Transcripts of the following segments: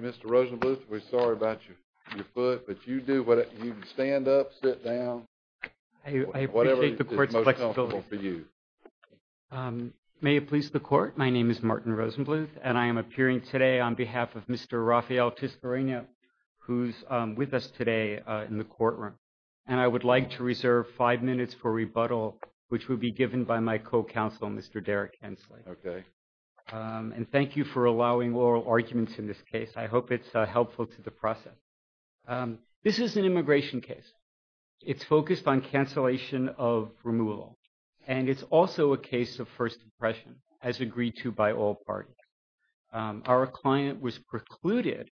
Mr. Rosenbluth, my name is Martin Rosenbluth, and I am appearing today on behalf of Mr. Rafael Tiscareno, who is with us today in the courtroom, and I would like to reserve five minutes for rebuttal, which will be given by my co-counsel, Mr. Derek Hensley, and thank you for allowing oral arguments in this case. I hope it's helpful to the process. This is an immigration case. It's focused on cancellation of removal, and it's also a case of first impression, as agreed to by all parties. Our client was precluded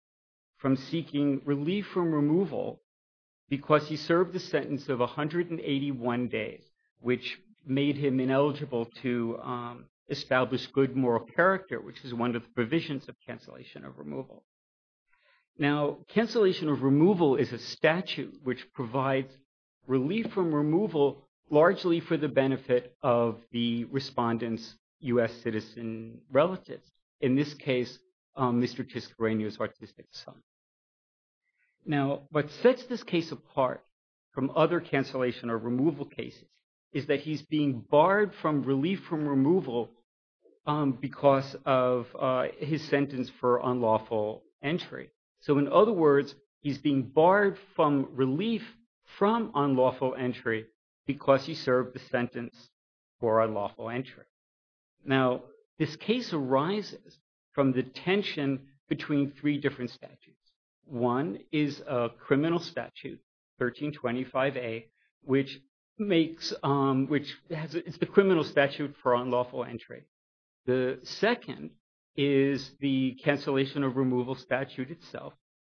from 81 days, which made him ineligible to establish good moral character, which is one of the provisions of cancellation of removal. Now, cancellation of removal is a statute which provides relief from removal, largely for the benefit of the respondent's U.S. citizen relatives, in this case, Mr. Tiscareno's autistic son. Now, what sets this case apart from other cancellation or removal cases is that he's being barred from relief from removal because of his sentence for unlawful entry. So, in other words, he's being barred from relief from unlawful entry because he served the sentence for unlawful entry. Now, this case arises from the tension between three different statutes. One is a criminal statute, 1325A, which is the criminal statute for unlawful entry. The second is the cancellation of removal statute itself.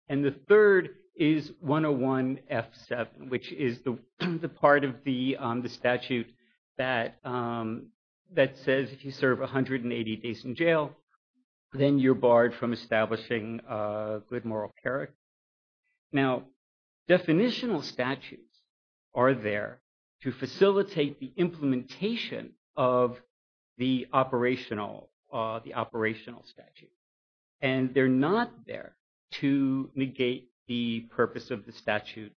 And the third is 101F7, which is the part of the statute that says if you serve 180 days in jail, then you're barred from establishing good moral character. Now, definitional statutes are there to facilitate the implementation of the operational statute. And they're not there to negate the purpose of the statute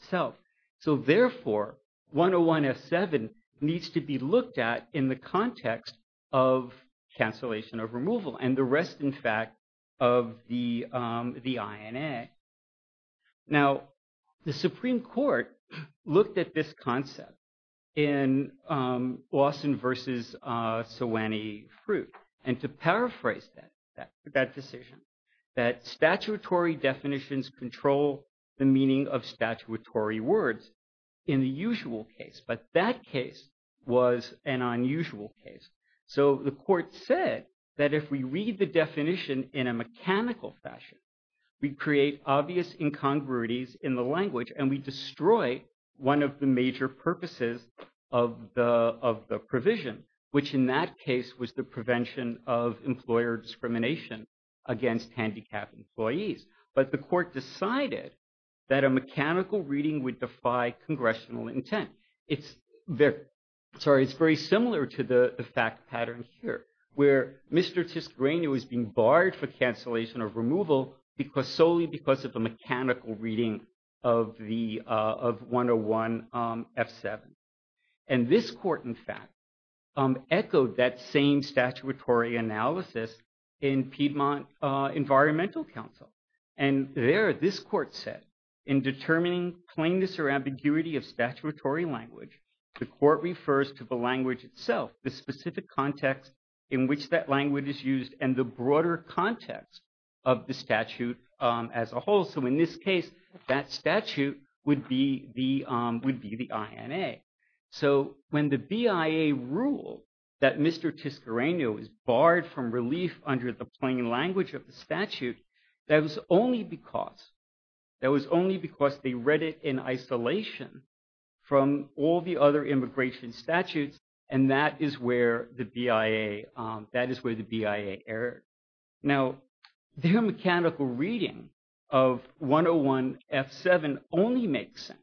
itself. So, therefore, 101F7 needs to be looked at in the context of cancellation of removal and the rest, in fact, of the INA. Now, the Supreme Court looked at this concept in Lawson v. Sewanee-Fruit and to paraphrase that decision, that statutory definitions control the meaning of statutory words in the usual case. But that case was an unusual case. So, the court said that if we read the definition in a mechanical fashion, we create obvious incongruities in the language and we destroy one of the major purposes of the provision, which in that case was the prevention of employer discrimination against handicapped employees. But the court decided that a mechanical reading would defy congressional intent. It's very similar to the fact pattern here, where Mr. Tisgrainu is being barred for cancellation of removal solely because of the mechanical reading of 101F7. And this court, in fact, echoed that same statutory analysis in Piedmont Environmental Council. And there, this court said, in determining plainness or ambiguity of statutory language, the court refers to the language itself, the specific context in which that language is used and the broader context of the statute as a whole. So, in this case, that statute would be the INA. So, when the BIA ruled that Mr. Tisgrainu is barred from relief under the plain language of the statute, that was only because they read it in isolation from all the other immigration statutes. And that is where the BIA, that is where the BIA erred. Now, their mechanical reading of 101F7 only makes sense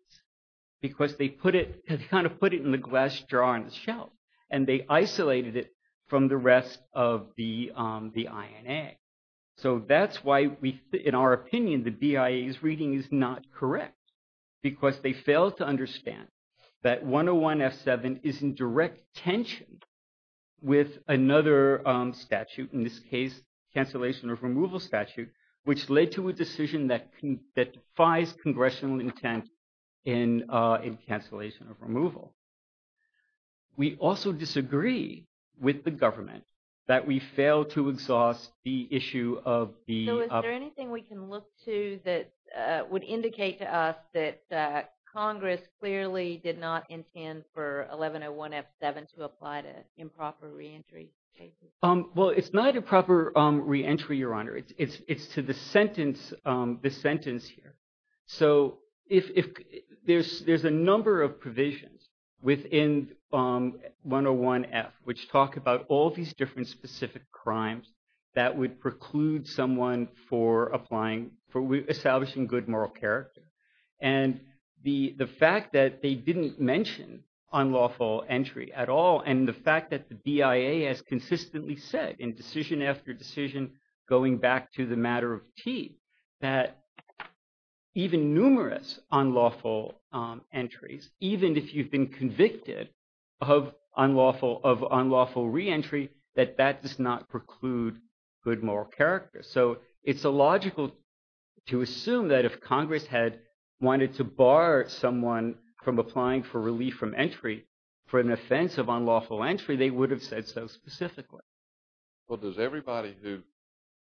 because they put it, kind of put it in the glass jar on the shelf and they isolated it from the rest of the INA. So, that's why in our opinion, the BIA's reading is not correct because they failed to understand that 101F7 is in direct tension with another statute, in this case, cancellation of removal statute, which led to a decision that defies congressional intent in cancellation of removal. We also disagree with the government that we failed to exhaust the issue of the... So, is there anything we can look to that would indicate to us that Congress clearly did not intend for 1101F7 to apply to improper re-entry cases? Well, it's not a proper re-entry, Your Honor. It's to the sentence, this sentence here. So, if there's a number of within 101F, which talk about all these different specific crimes that would preclude someone for applying, for establishing good moral character. And the fact that they didn't mention unlawful entry at all, and the fact that the BIA has consistently said in decision after decision, going back to the matter of teeth, that even numerous unlawful entries, even if you've been convicted of unlawful re-entry, that that does not preclude good moral character. So, it's illogical to assume that if Congress had wanted to bar someone from applying for relief from entry for an offense of unlawful entry, they would have said so specifically. Well, does everybody who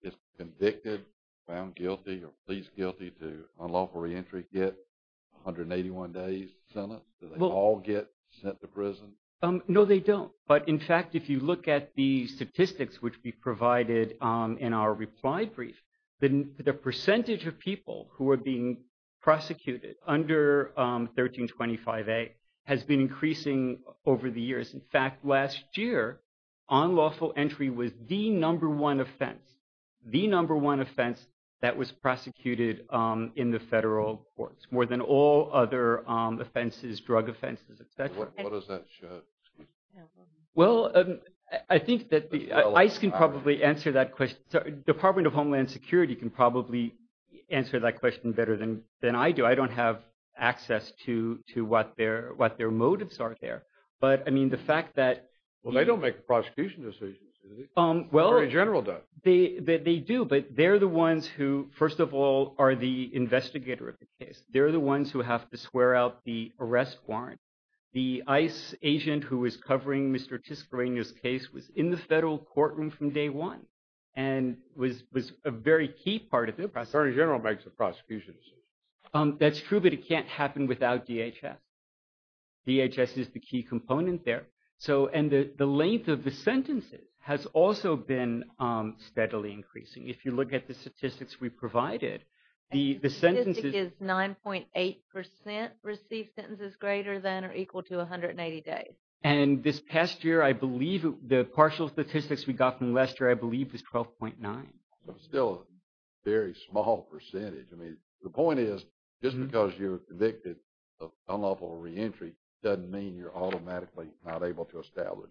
is convicted, found guilty, or pleads guilty to unlawful re-entry get 181 days sentence? Do they all get sent to prison? No, they don't. But in fact, if you look at the statistics which we provided in our reply brief, the percentage of people who are being prosecuted under 1325A has been increasing over the years. In fact, last year, unlawful entry was the number one offense, the number one offense that was all other offenses, drug offenses, etc. What does that show? Well, I think that ICE can probably answer that question. Department of Homeland Security can probably answer that question better than I do. I don't have access to what their motives are there. But, I mean, the fact that... Well, they don't make prosecution decisions, do they? Or in general, do they? They do, but they're the ones who, first of all, are the investigator of the case. They're the ones who have to swear out the arrest warrant. The ICE agent who was covering Mr. Tiscareno's case was in the federal courtroom from day one and was a very key part of it. The Attorney General makes the prosecutions. That's true, but it can't happen without DHS. DHS is the key component there. So, and the length of the sentences has also been steadily increasing. If you look at the statistics we provided, the sentences... 12.8% receive sentences greater than or equal to 180 days. And this past year, I believe the partial statistics we got from Lester, I believe, is 12.9. So, it's still a very small percentage. I mean, the point is, just because you're convicted of unlawful reentry doesn't mean you're automatically not able to establish...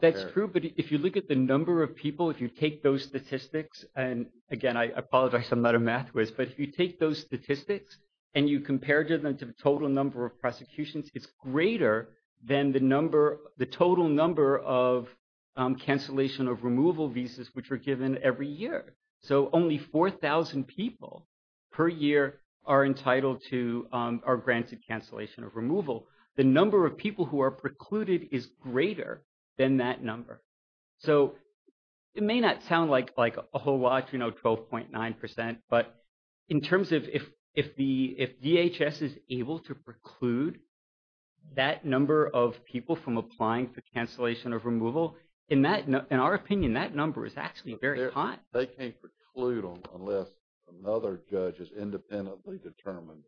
That's true, but if you look at the number of people, if you take those statistics, and again, I apologize, I'm not a math whiz, but if you take those statistics and you compare them to the total number of prosecutions, it's greater than the number, the total number of cancellation of removal visas, which are given every year. So, only 4,000 people per year are entitled to or granted cancellation of removal. The number of people who are precluded is greater than that number. So, it may not sound like a whole lot, you know, 12.9%, but in terms of if DHS is able to preclude that number of people from applying for cancellation of removal, in our opinion, that number is actually very high. They can't preclude them unless another judge has independently determined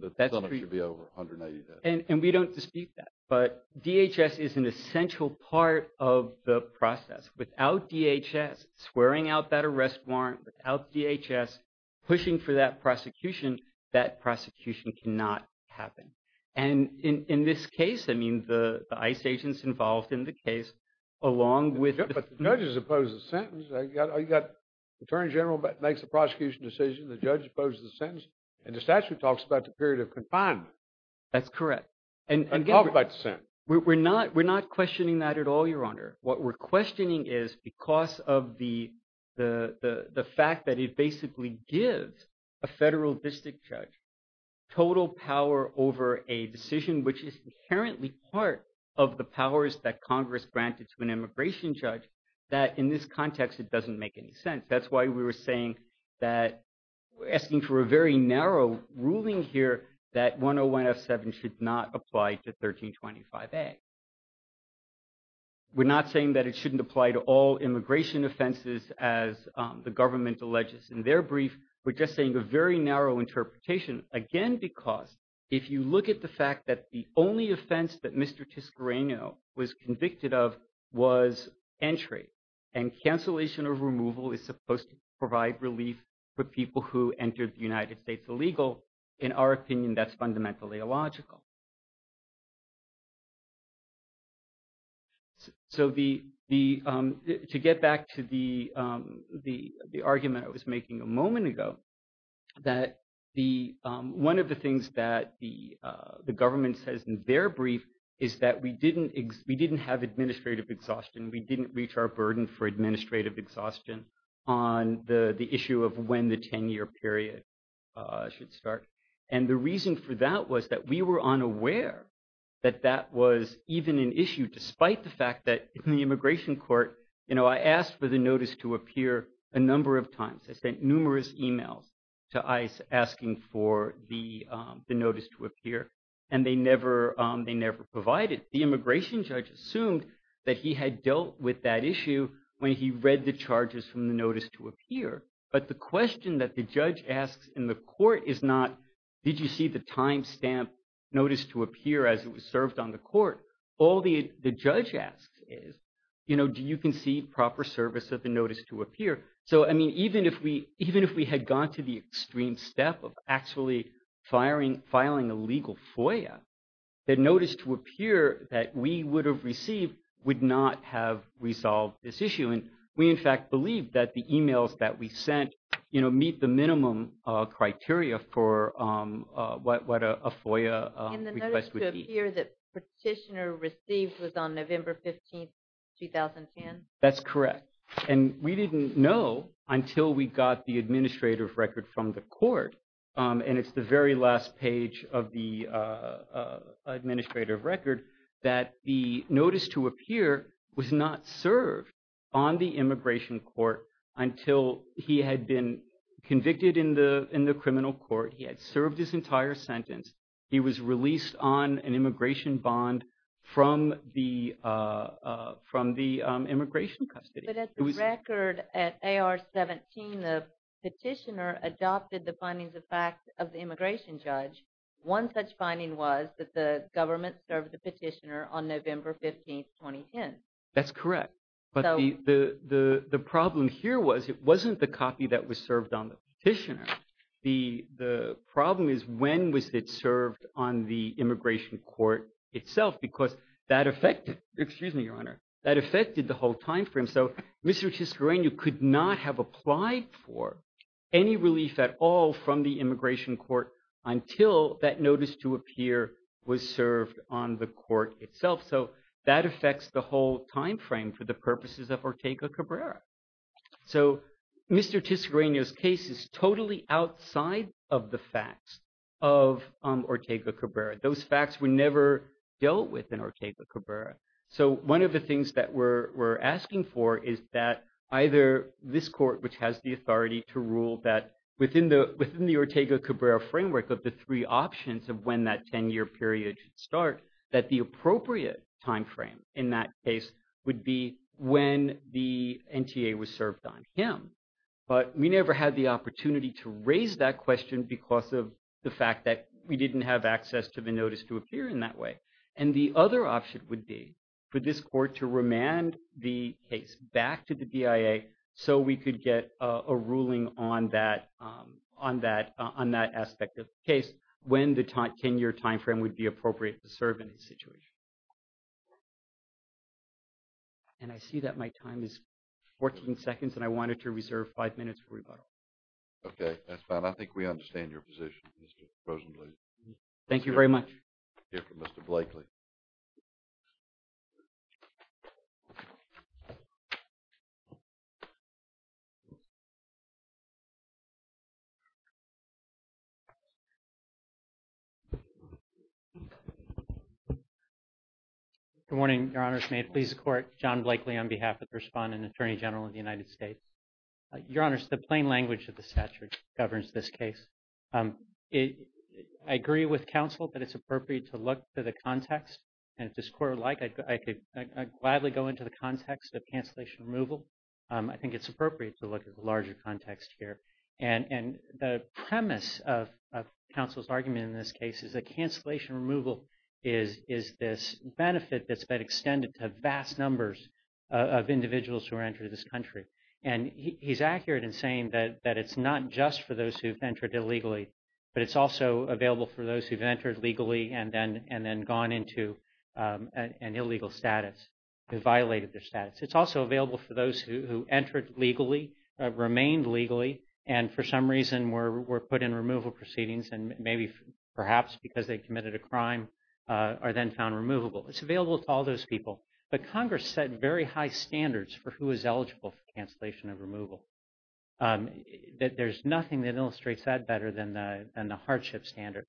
that the sentence should be over 180 days. And we don't dispute that, but DHS is an essential part of the process. Without DHS swearing out that arrest warrant, without DHS pushing for that prosecution, that prosecution cannot happen. And in this case, I mean, the ICE agents involved in the case, along with... But the judges oppose the sentence. Attorney General makes the prosecution decision, the judge opposes the sentence, and the statute talks about the period of confinement. That's correct. And again, we're not questioning that at all, Your Honor. What we're questioning is because of the fact that it basically gives a federal district judge total power over a decision, which is inherently part of the powers that Congress granted to an immigration judge, that in this context, it doesn't make any sense. That's why we were saying that we're asking for a very narrow ruling here that 101F7 should not apply to 1325A. We're not saying that it shouldn't apply to all immigration offenses, as the government alleges in their brief. We're just saying a very narrow interpretation, again, because if you look at the fact that the only offense that Mr. Tiscarreno was convicted of was entry, and cancellation of removal is supposed to provide relief for people who entered the United States illegal, in our opinion, that's fundamentally illogical. So to get back to the argument I was making a moment ago, that one of the things that the government says in their brief is that we didn't have administrative exhaustion. We didn't reach our burden for administrative exhaustion on the issue of when the 10-year period should start. And the reason for that was that we were unaware that that was even an issue, despite the fact that in the immigration court, I asked for the notice to appear a number of times. I sent numerous emails to ICE asking for the notice to appear, and they never provided. The immigration judge assumed that he had dealt with that issue when he read the charges from the notice to appear. But the question that the judge asks in the court is not, did you see the time stamp notice to appear as it was served on the court? All the judge asks is, do you conceive proper service of the notice to appear? So even if we had gone to the extreme step of actually filing a legal FOIA, the notice to appear that we would have received would not have resolved this issue. And we, in fact, believe that the emails that we sent, you know, meet the minimum criteria for what a FOIA request would be. And the notice to appear that Petitioner received was on November 15, 2010? That's correct. And we didn't know until we got the administrative record from the court, and it's the very last page of the administrative record, that the notice to appear was not served on the immigration court until he had been convicted in the criminal court, he had served his entire sentence, he was released on an immigration bond from the immigration custody. But at the record, at AR-17, the petitioner adopted the findings of fact of the immigration judge, one such finding was that the government served the petitioner on November 15, 2010. That's correct. But the problem here was, it wasn't the copy that was served on the petitioner. The problem is, when was it served on the immigration court itself? Because that affected, excuse me, Your Honor, that affected the whole time frame. So Mr. Chiscarreño could not have applied for any relief at all from the immigration court until that notice to appear was served on the court itself. So that affects the whole time frame for the purposes of Ortega Cabrera. So Mr. Chiscarreño's case is totally outside of the facts of Ortega Cabrera. Those facts were never dealt with in Ortega Cabrera. So one of the things that we're asking for is that either this court, which has the authority to rule that within the Ortega Cabrera framework of the three options of when that 10-year period should start, that the appropriate time frame in that case would be when the NTA was served on him. But we never had the opportunity to raise that question because of the fact that we didn't have access to the notice to appear in that way. And the other option would be for this court to remand the case back to the BIA so we could get a ruling on that aspect of the case when the 10-year time frame would be appropriate to serve in his situation. And I see that my time is 14 seconds, and I wanted to reserve five minutes for rebuttal. Okay, that's fine. I think we understand your position, Mr. Rosenbluth. Thank you very much. We'll hear from Mr. Blakely. Good morning, Your Honors. May it please the Court, John Blakely on behalf of the Respondent Attorney General of the United States. Your Honors, the plain language of the statute governs this case. I agree with counsel that it's appropriate to look to the context. And if this Court would like, I'd gladly go into the context of cancellation removal. I think it's appropriate to look at the larger context here. And the premise of counsel's argument in this case is that cancellation removal is this benefit that's been extended to vast numbers of individuals who are entering this country. And he's accurate in saying that it's not just for those who've entered illegally, but it's also available for those who've entered legally and then gone into an illegal status, who violated their status. It's also available for those who entered legally, remained legally, and for some reason were put in removal proceedings, and maybe perhaps because they committed a crime are then found removable. It's available to all those people. But Congress set very high standards for who is eligible for cancellation of removal. There's nothing that illustrates that better than the hardship standard.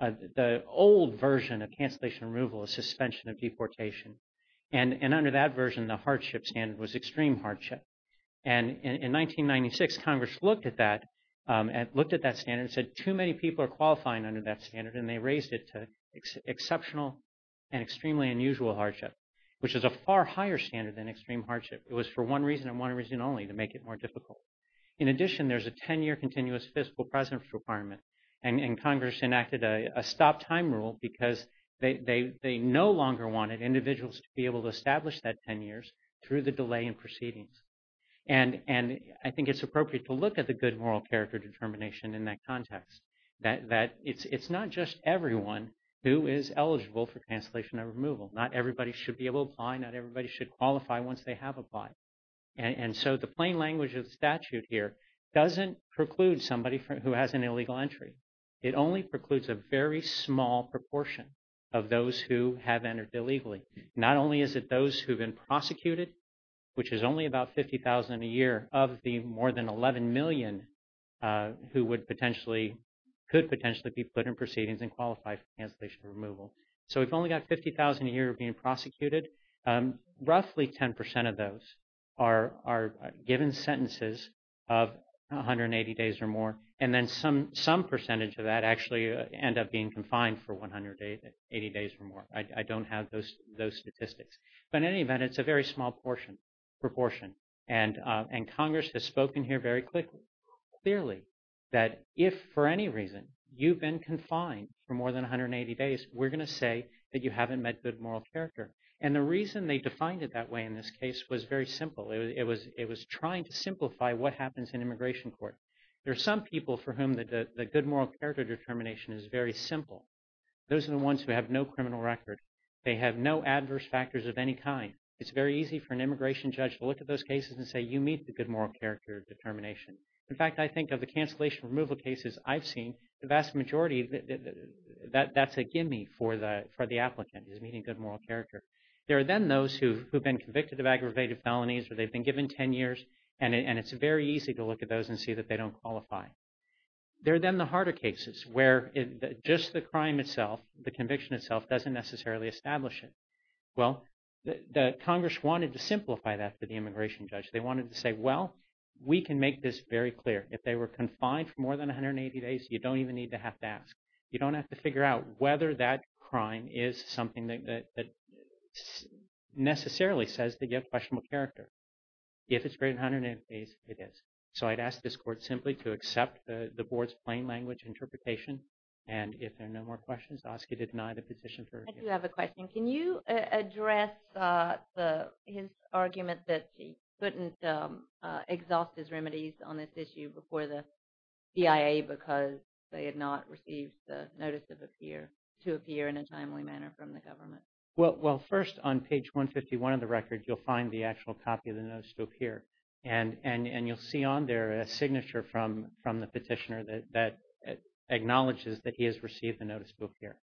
The old version of cancellation removal is suspension of deportation. And under that version, the hardship standard was extreme hardship. And in 1996, Congress looked at that standard and said, too many people are qualifying under that standard. And they raised it to exceptional and extremely unusual hardship. Which is a far higher standard than extreme hardship. It was for one reason and one reason only to make it more difficult. In addition, there's a 10-year continuous fiscal presence requirement. And Congress enacted a stop time rule because they no longer wanted individuals to be able to establish that 10 years through the delay in proceedings. And I think it's appropriate to look at the good moral character determination in that context. That it's not just everyone who is eligible for cancellation of removal. Not everybody should be able to apply. Not everybody should qualify once they have applied. And so the plain language of the statute here doesn't preclude somebody who has an illegal entry. It only precludes a very small proportion of those who have entered illegally. Not only is it those who've been prosecuted, which is only about 50,000 a year of the more than 11 million who would potentially, could potentially be put in proceedings and qualify for cancellation removal. So we've only got 50,000 a year of being prosecuted. Roughly 10% of those are given sentences of 180 days or more. And then some percentage of that actually end up being confined for 180 days or more. I don't have those statistics. But in any event, it's a very small proportion. And Congress has spoken here very clearly that if for any reason you've been confined for more than 180 days, we're going to say that you haven't met good moral character. And the reason they defined it that way in this case was very simple. It was trying to simplify what happens in immigration court. There are some people for whom the good moral character determination is very simple. Those are the ones who have no criminal record. They have no adverse factors of any kind. It's very easy for an immigration judge to look at those cases and say, you meet the good moral character determination. In fact, I think of the cancellation removal cases I've seen, the vast majority, that's a gimme for the applicant is meeting good moral character. There are then those who've been convicted of aggravated felonies where they've been given 10 years. And it's very easy to look at those and see that they don't qualify. There are then the harder cases where just the crime itself, the conviction itself, doesn't necessarily establish it. Well, the Congress wanted to simplify that for the immigration judge. They wanted to say, well, we can make this very clear. If they were confined for more than 180 days, you don't even need to have to ask. You don't have to figure out whether that crime is something that necessarily says they get questionable character. If it's greater than 180 days, it is. So I'd ask this court simply to accept the board's plain language interpretation. And if there are no more questions, ask you to deny the position. I do have a question. Can you address his argument that he couldn't exhaust his remedies on this issue before the CIA because they had not received the notice to appear in a timely manner from the government? Well, first, on page 151 of the record, you'll find the actual copy of the notice to appear. And you'll see on there a signature from the petitioner that acknowledges that he has received the notice to appear.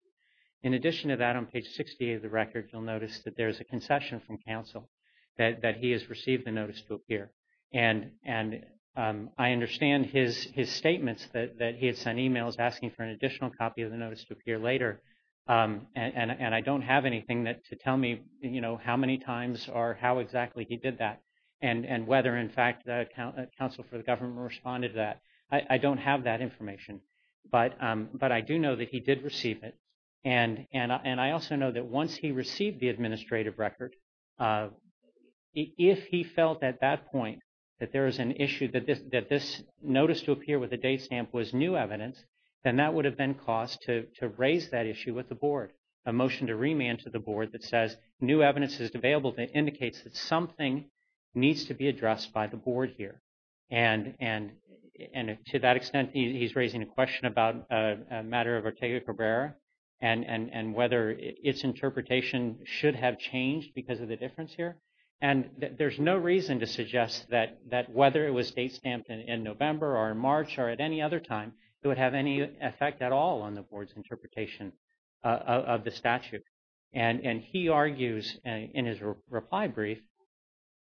In addition to that, on page 68 of the record, you'll notice that there's a concession from counsel that he has received the notice to appear. And I understand his statements that he had sent emails asking for an additional copy of the notice to appear later. And I don't have anything to tell me how many times or how exactly he did that and whether, in fact, the counsel for the government responded to that. I don't have that information. But I do know that he did receive it. And I also know that once he received the administrative record, if he felt at that point that there was an issue, that this notice to appear with a date stamp was new evidence, then that would have been caused to raise that issue with the board, a motion to remand to the board that says new evidence is available that indicates that something needs to be addressed by the board here. And to that extent, he's raising a question about a matter of Ortega Cabrera and whether its interpretation should have changed because of the difference here. And there's no reason to suggest that whether it was date stamped in November or in March or at any other time, it would have any effect at all on the board's interpretation of the statute. And he argues in his reply brief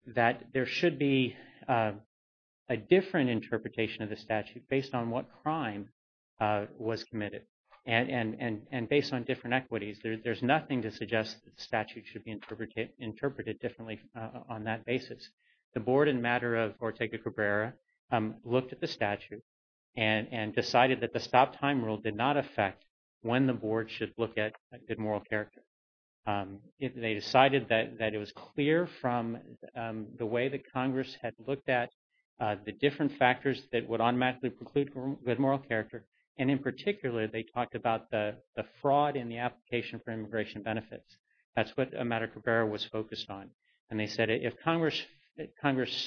that there should be a different interpretation of the statute based on what crime was committed and based on different equities. There's nothing to suggest that the statute should be interpreted differently on that basis. The board, in the matter of Ortega Cabrera, looked at the statute and decided that the statute should be interpreted differently on the basis of what crime was committed. And they decided that it was clear from the way that Congress had looked at the different factors that would automatically preclude good moral character. And in particular, they talked about the fraud in the application for immigration benefits. That's what a matter Cabrera was focused on. And they said if Congress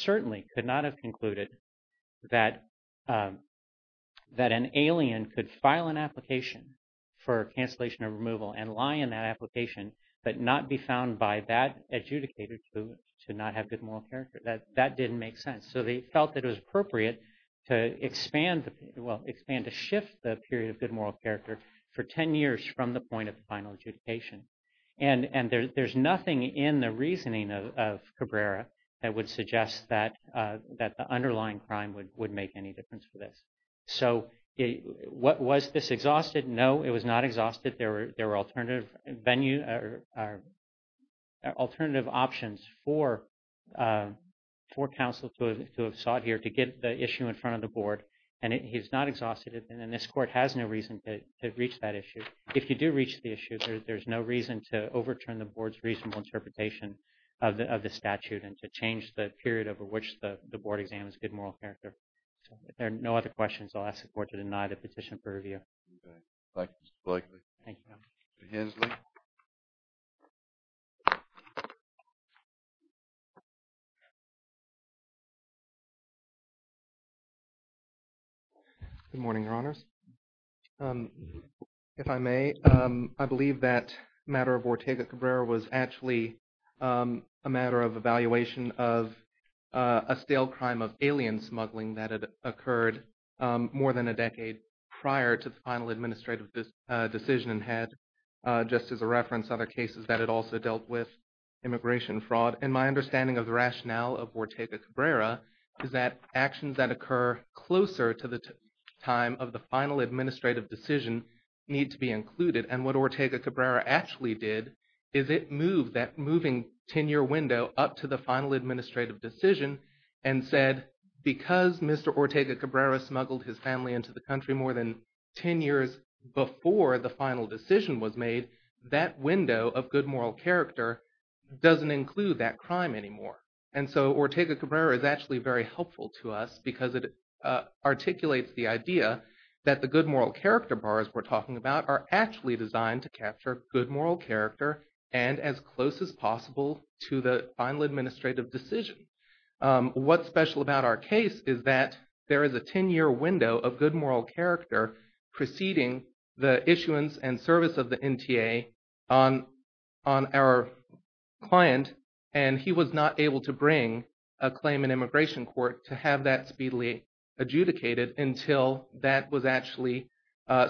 certainly could not have concluded that an alien could file an application for cancellation or removal and lie in that application but not be found by that adjudicator to not have good moral character, that didn't make sense. So they felt that it was appropriate to expand the period, well, expand to shift the period of good moral character for 10 years from the point of the final adjudication. And there's nothing in the reasoning of Cabrera that would suggest that the underlying crime would make any difference for this. So was this exhausted? No, it was not exhausted. There were alternative venue or alternative options for counsel to have sought here to get the issue in front of the board. And he's not exhausted it. And then this court has no reason to reach that issue. If you do reach the issue, there's no reason to overturn the board's reasonable interpretation of the statute and to change the period over which the board examines good moral character. So if there are no other questions, I'll ask the court to deny the petition for review. Okay. Thank you, Mr. Blakely. Thank you. Good morning, Your Honors. If I may, I believe that matter of Ortega-Cabrera was actually a matter of evaluation of a stale crime of alien smuggling that had occurred more than a decade prior to the final administrative decision and had, just as a reference, other cases that had also dealt with immigration fraud. And my understanding of the rationale of Ortega-Cabrera is that actions that occur closer to the time of the final administrative decision need to be included. And what Ortega-Cabrera actually did is it moved that moving tenure window up to the Because Mr. Ortega-Cabrera smuggled his family into the country more than 10 years before the final decision was made, that window of good moral character doesn't include that crime anymore. And so Ortega-Cabrera is actually very helpful to us because it articulates the idea that the good moral character bars we're talking about are actually designed to capture good moral character and as close as possible to the final administrative decision. What's special about our case is that there is a 10-year window of good moral character preceding the issuance and service of the NTA on our client and he was not able to bring a claim in immigration court to have that speedily adjudicated until that was actually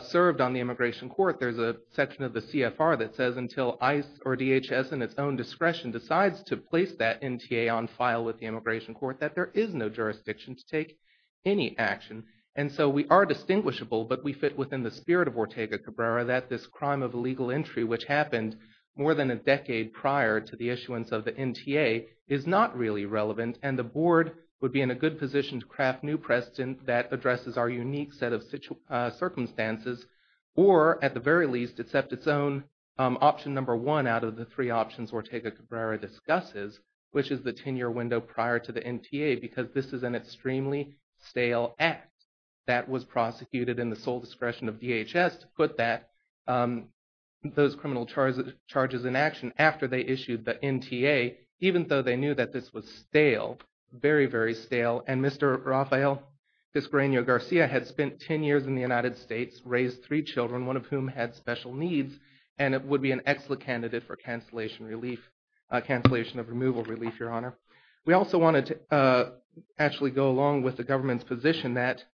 served on the immigration court. There's a section of the CFR that says until ICE or DHS in its own discretion decides to place that NTA on file with the immigration court that there is no jurisdiction to take any action. And so we are distinguishable but we fit within the spirit of Ortega-Cabrera that this crime of illegal entry which happened more than a decade prior to the issuance of the NTA is not really relevant and the board would be in a good position to craft new precedent that addresses our unique set of circumstances or at the very least accept its own option number one out of the three options Ortega-Cabrera discusses which is the 10-year window prior to the NTA because this is an extremely stale act that was prosecuted in the sole discretion of DHS to put those criminal charges in action after they issued the NTA even though they knew that this was stale, very, very stale. And Mr. Rafael Disparanio-Garcia had spent 10 years in the United States, raised three cases, and is still a candidate for cancellation of removal relief, Your Honor. We also wanted to actually go along with the government's position that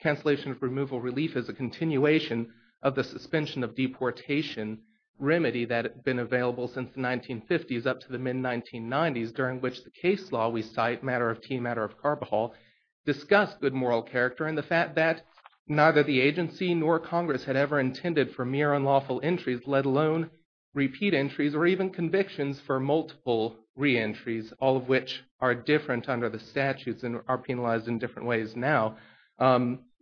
cancellation of removal relief is a continuation of the suspension of deportation remedy that had been available since the 1950s up to the mid-1990s during which the case law we cite, matter of tea, matter of carbohol, discussed good moral character and the fact that neither the agency nor Congress had ever intended for mere unlawful entries let alone repeat entries or even convictions for multiple reentries, all of which are different under the statutes and are penalized in different ways now,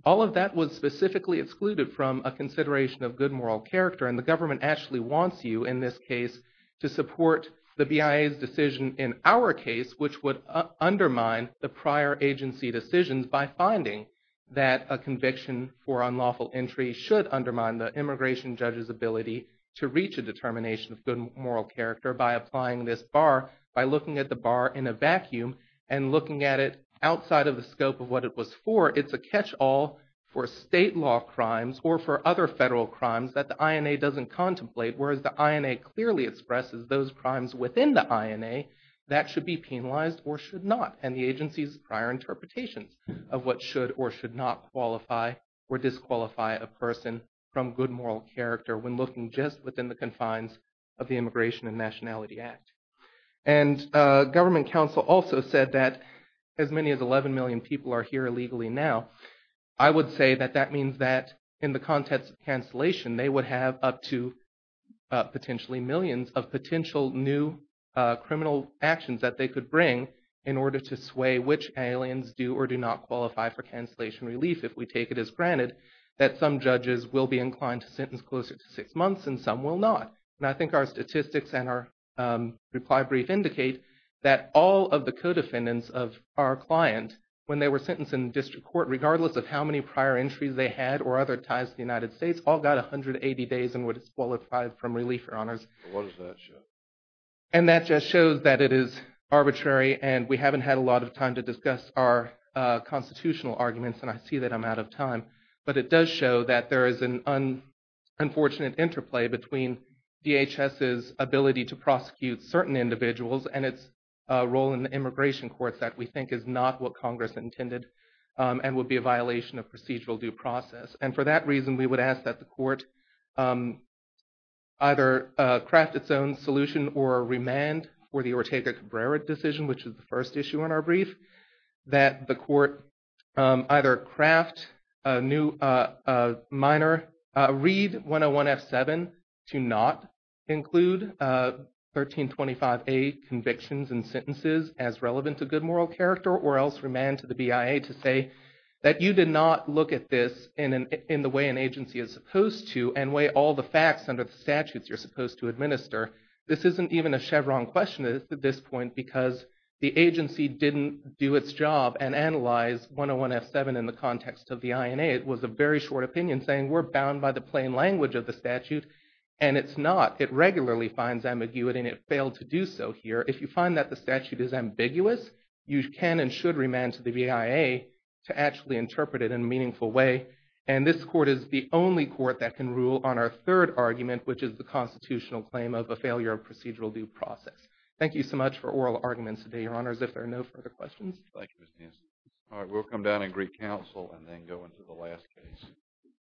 all of that was specifically excluded from a consideration of good moral character and the government actually wants you in this case to support the BIA's decision in our case which would undermine the prior agency decisions by finding that a conviction for immigration judges ability to reach a determination of good moral character by applying this bar, by looking at the bar in a vacuum and looking at it outside of the scope of what it was for, it's a catch-all for state law crimes or for other federal crimes that the INA doesn't contemplate whereas the INA clearly expresses those crimes within the INA that should be penalized or should not and the agency's prior interpretations of what should or should not qualify or disqualify a person from good moral character when looking just within the confines of the Immigration and Nationality Act and Government Council also said that as many as 11 million people are here illegally now, I would say that that means that in the context of cancellation they would have up to potentially millions of potential new criminal actions that they could bring in order to sway which aliens do or do not qualify for cancellation relief if we take it as granted that some judges will be inclined to sentence closer to six months and some will not and I think our statistics and our reply brief indicate that all of the co-defendants of our client when they were sentenced in the district court regardless of how many prior entries they had or other ties to the United States all got 180 days and were disqualified from relief or honors. What does that show? And that just shows that it is arbitrary and we haven't had a lot of time to discuss our constitutional arguments and I see that I'm out of time but it does show that there is an unfortunate interplay between DHS's ability to prosecute certain individuals and its role in the immigration courts that we think is not what Congress intended and would be a violation of procedural due process and for that reason we would ask that the court either craft its own solution or remand for the Ortega Cabrera decision which is the first issue in our brief that the court either craft a new minor read 101 f7 to not include 1325a convictions and sentences as relevant to good moral character or else remand to the BIA to say that you did not look at this in the way an agency is supposed to and weigh all the facts under the statutes you're supposed to administer. This isn't even a Chevron question at this point because the agency didn't do its job and analyze 101 f7 in the context of the INA. It was a very short opinion saying we're bound by the plain language of the statute and it's not. It regularly finds ambiguity and it failed to do so here. If you find that the statute is ambiguous you can and the BIA to actually interpret it in a meaningful way and this court is the only court that can rule on our third argument which is the constitutional claim of a failure of procedural due process. Thank you so much for oral arguments today your honors if there are no further questions. All right we'll come down and greet counsel and then go into the last case.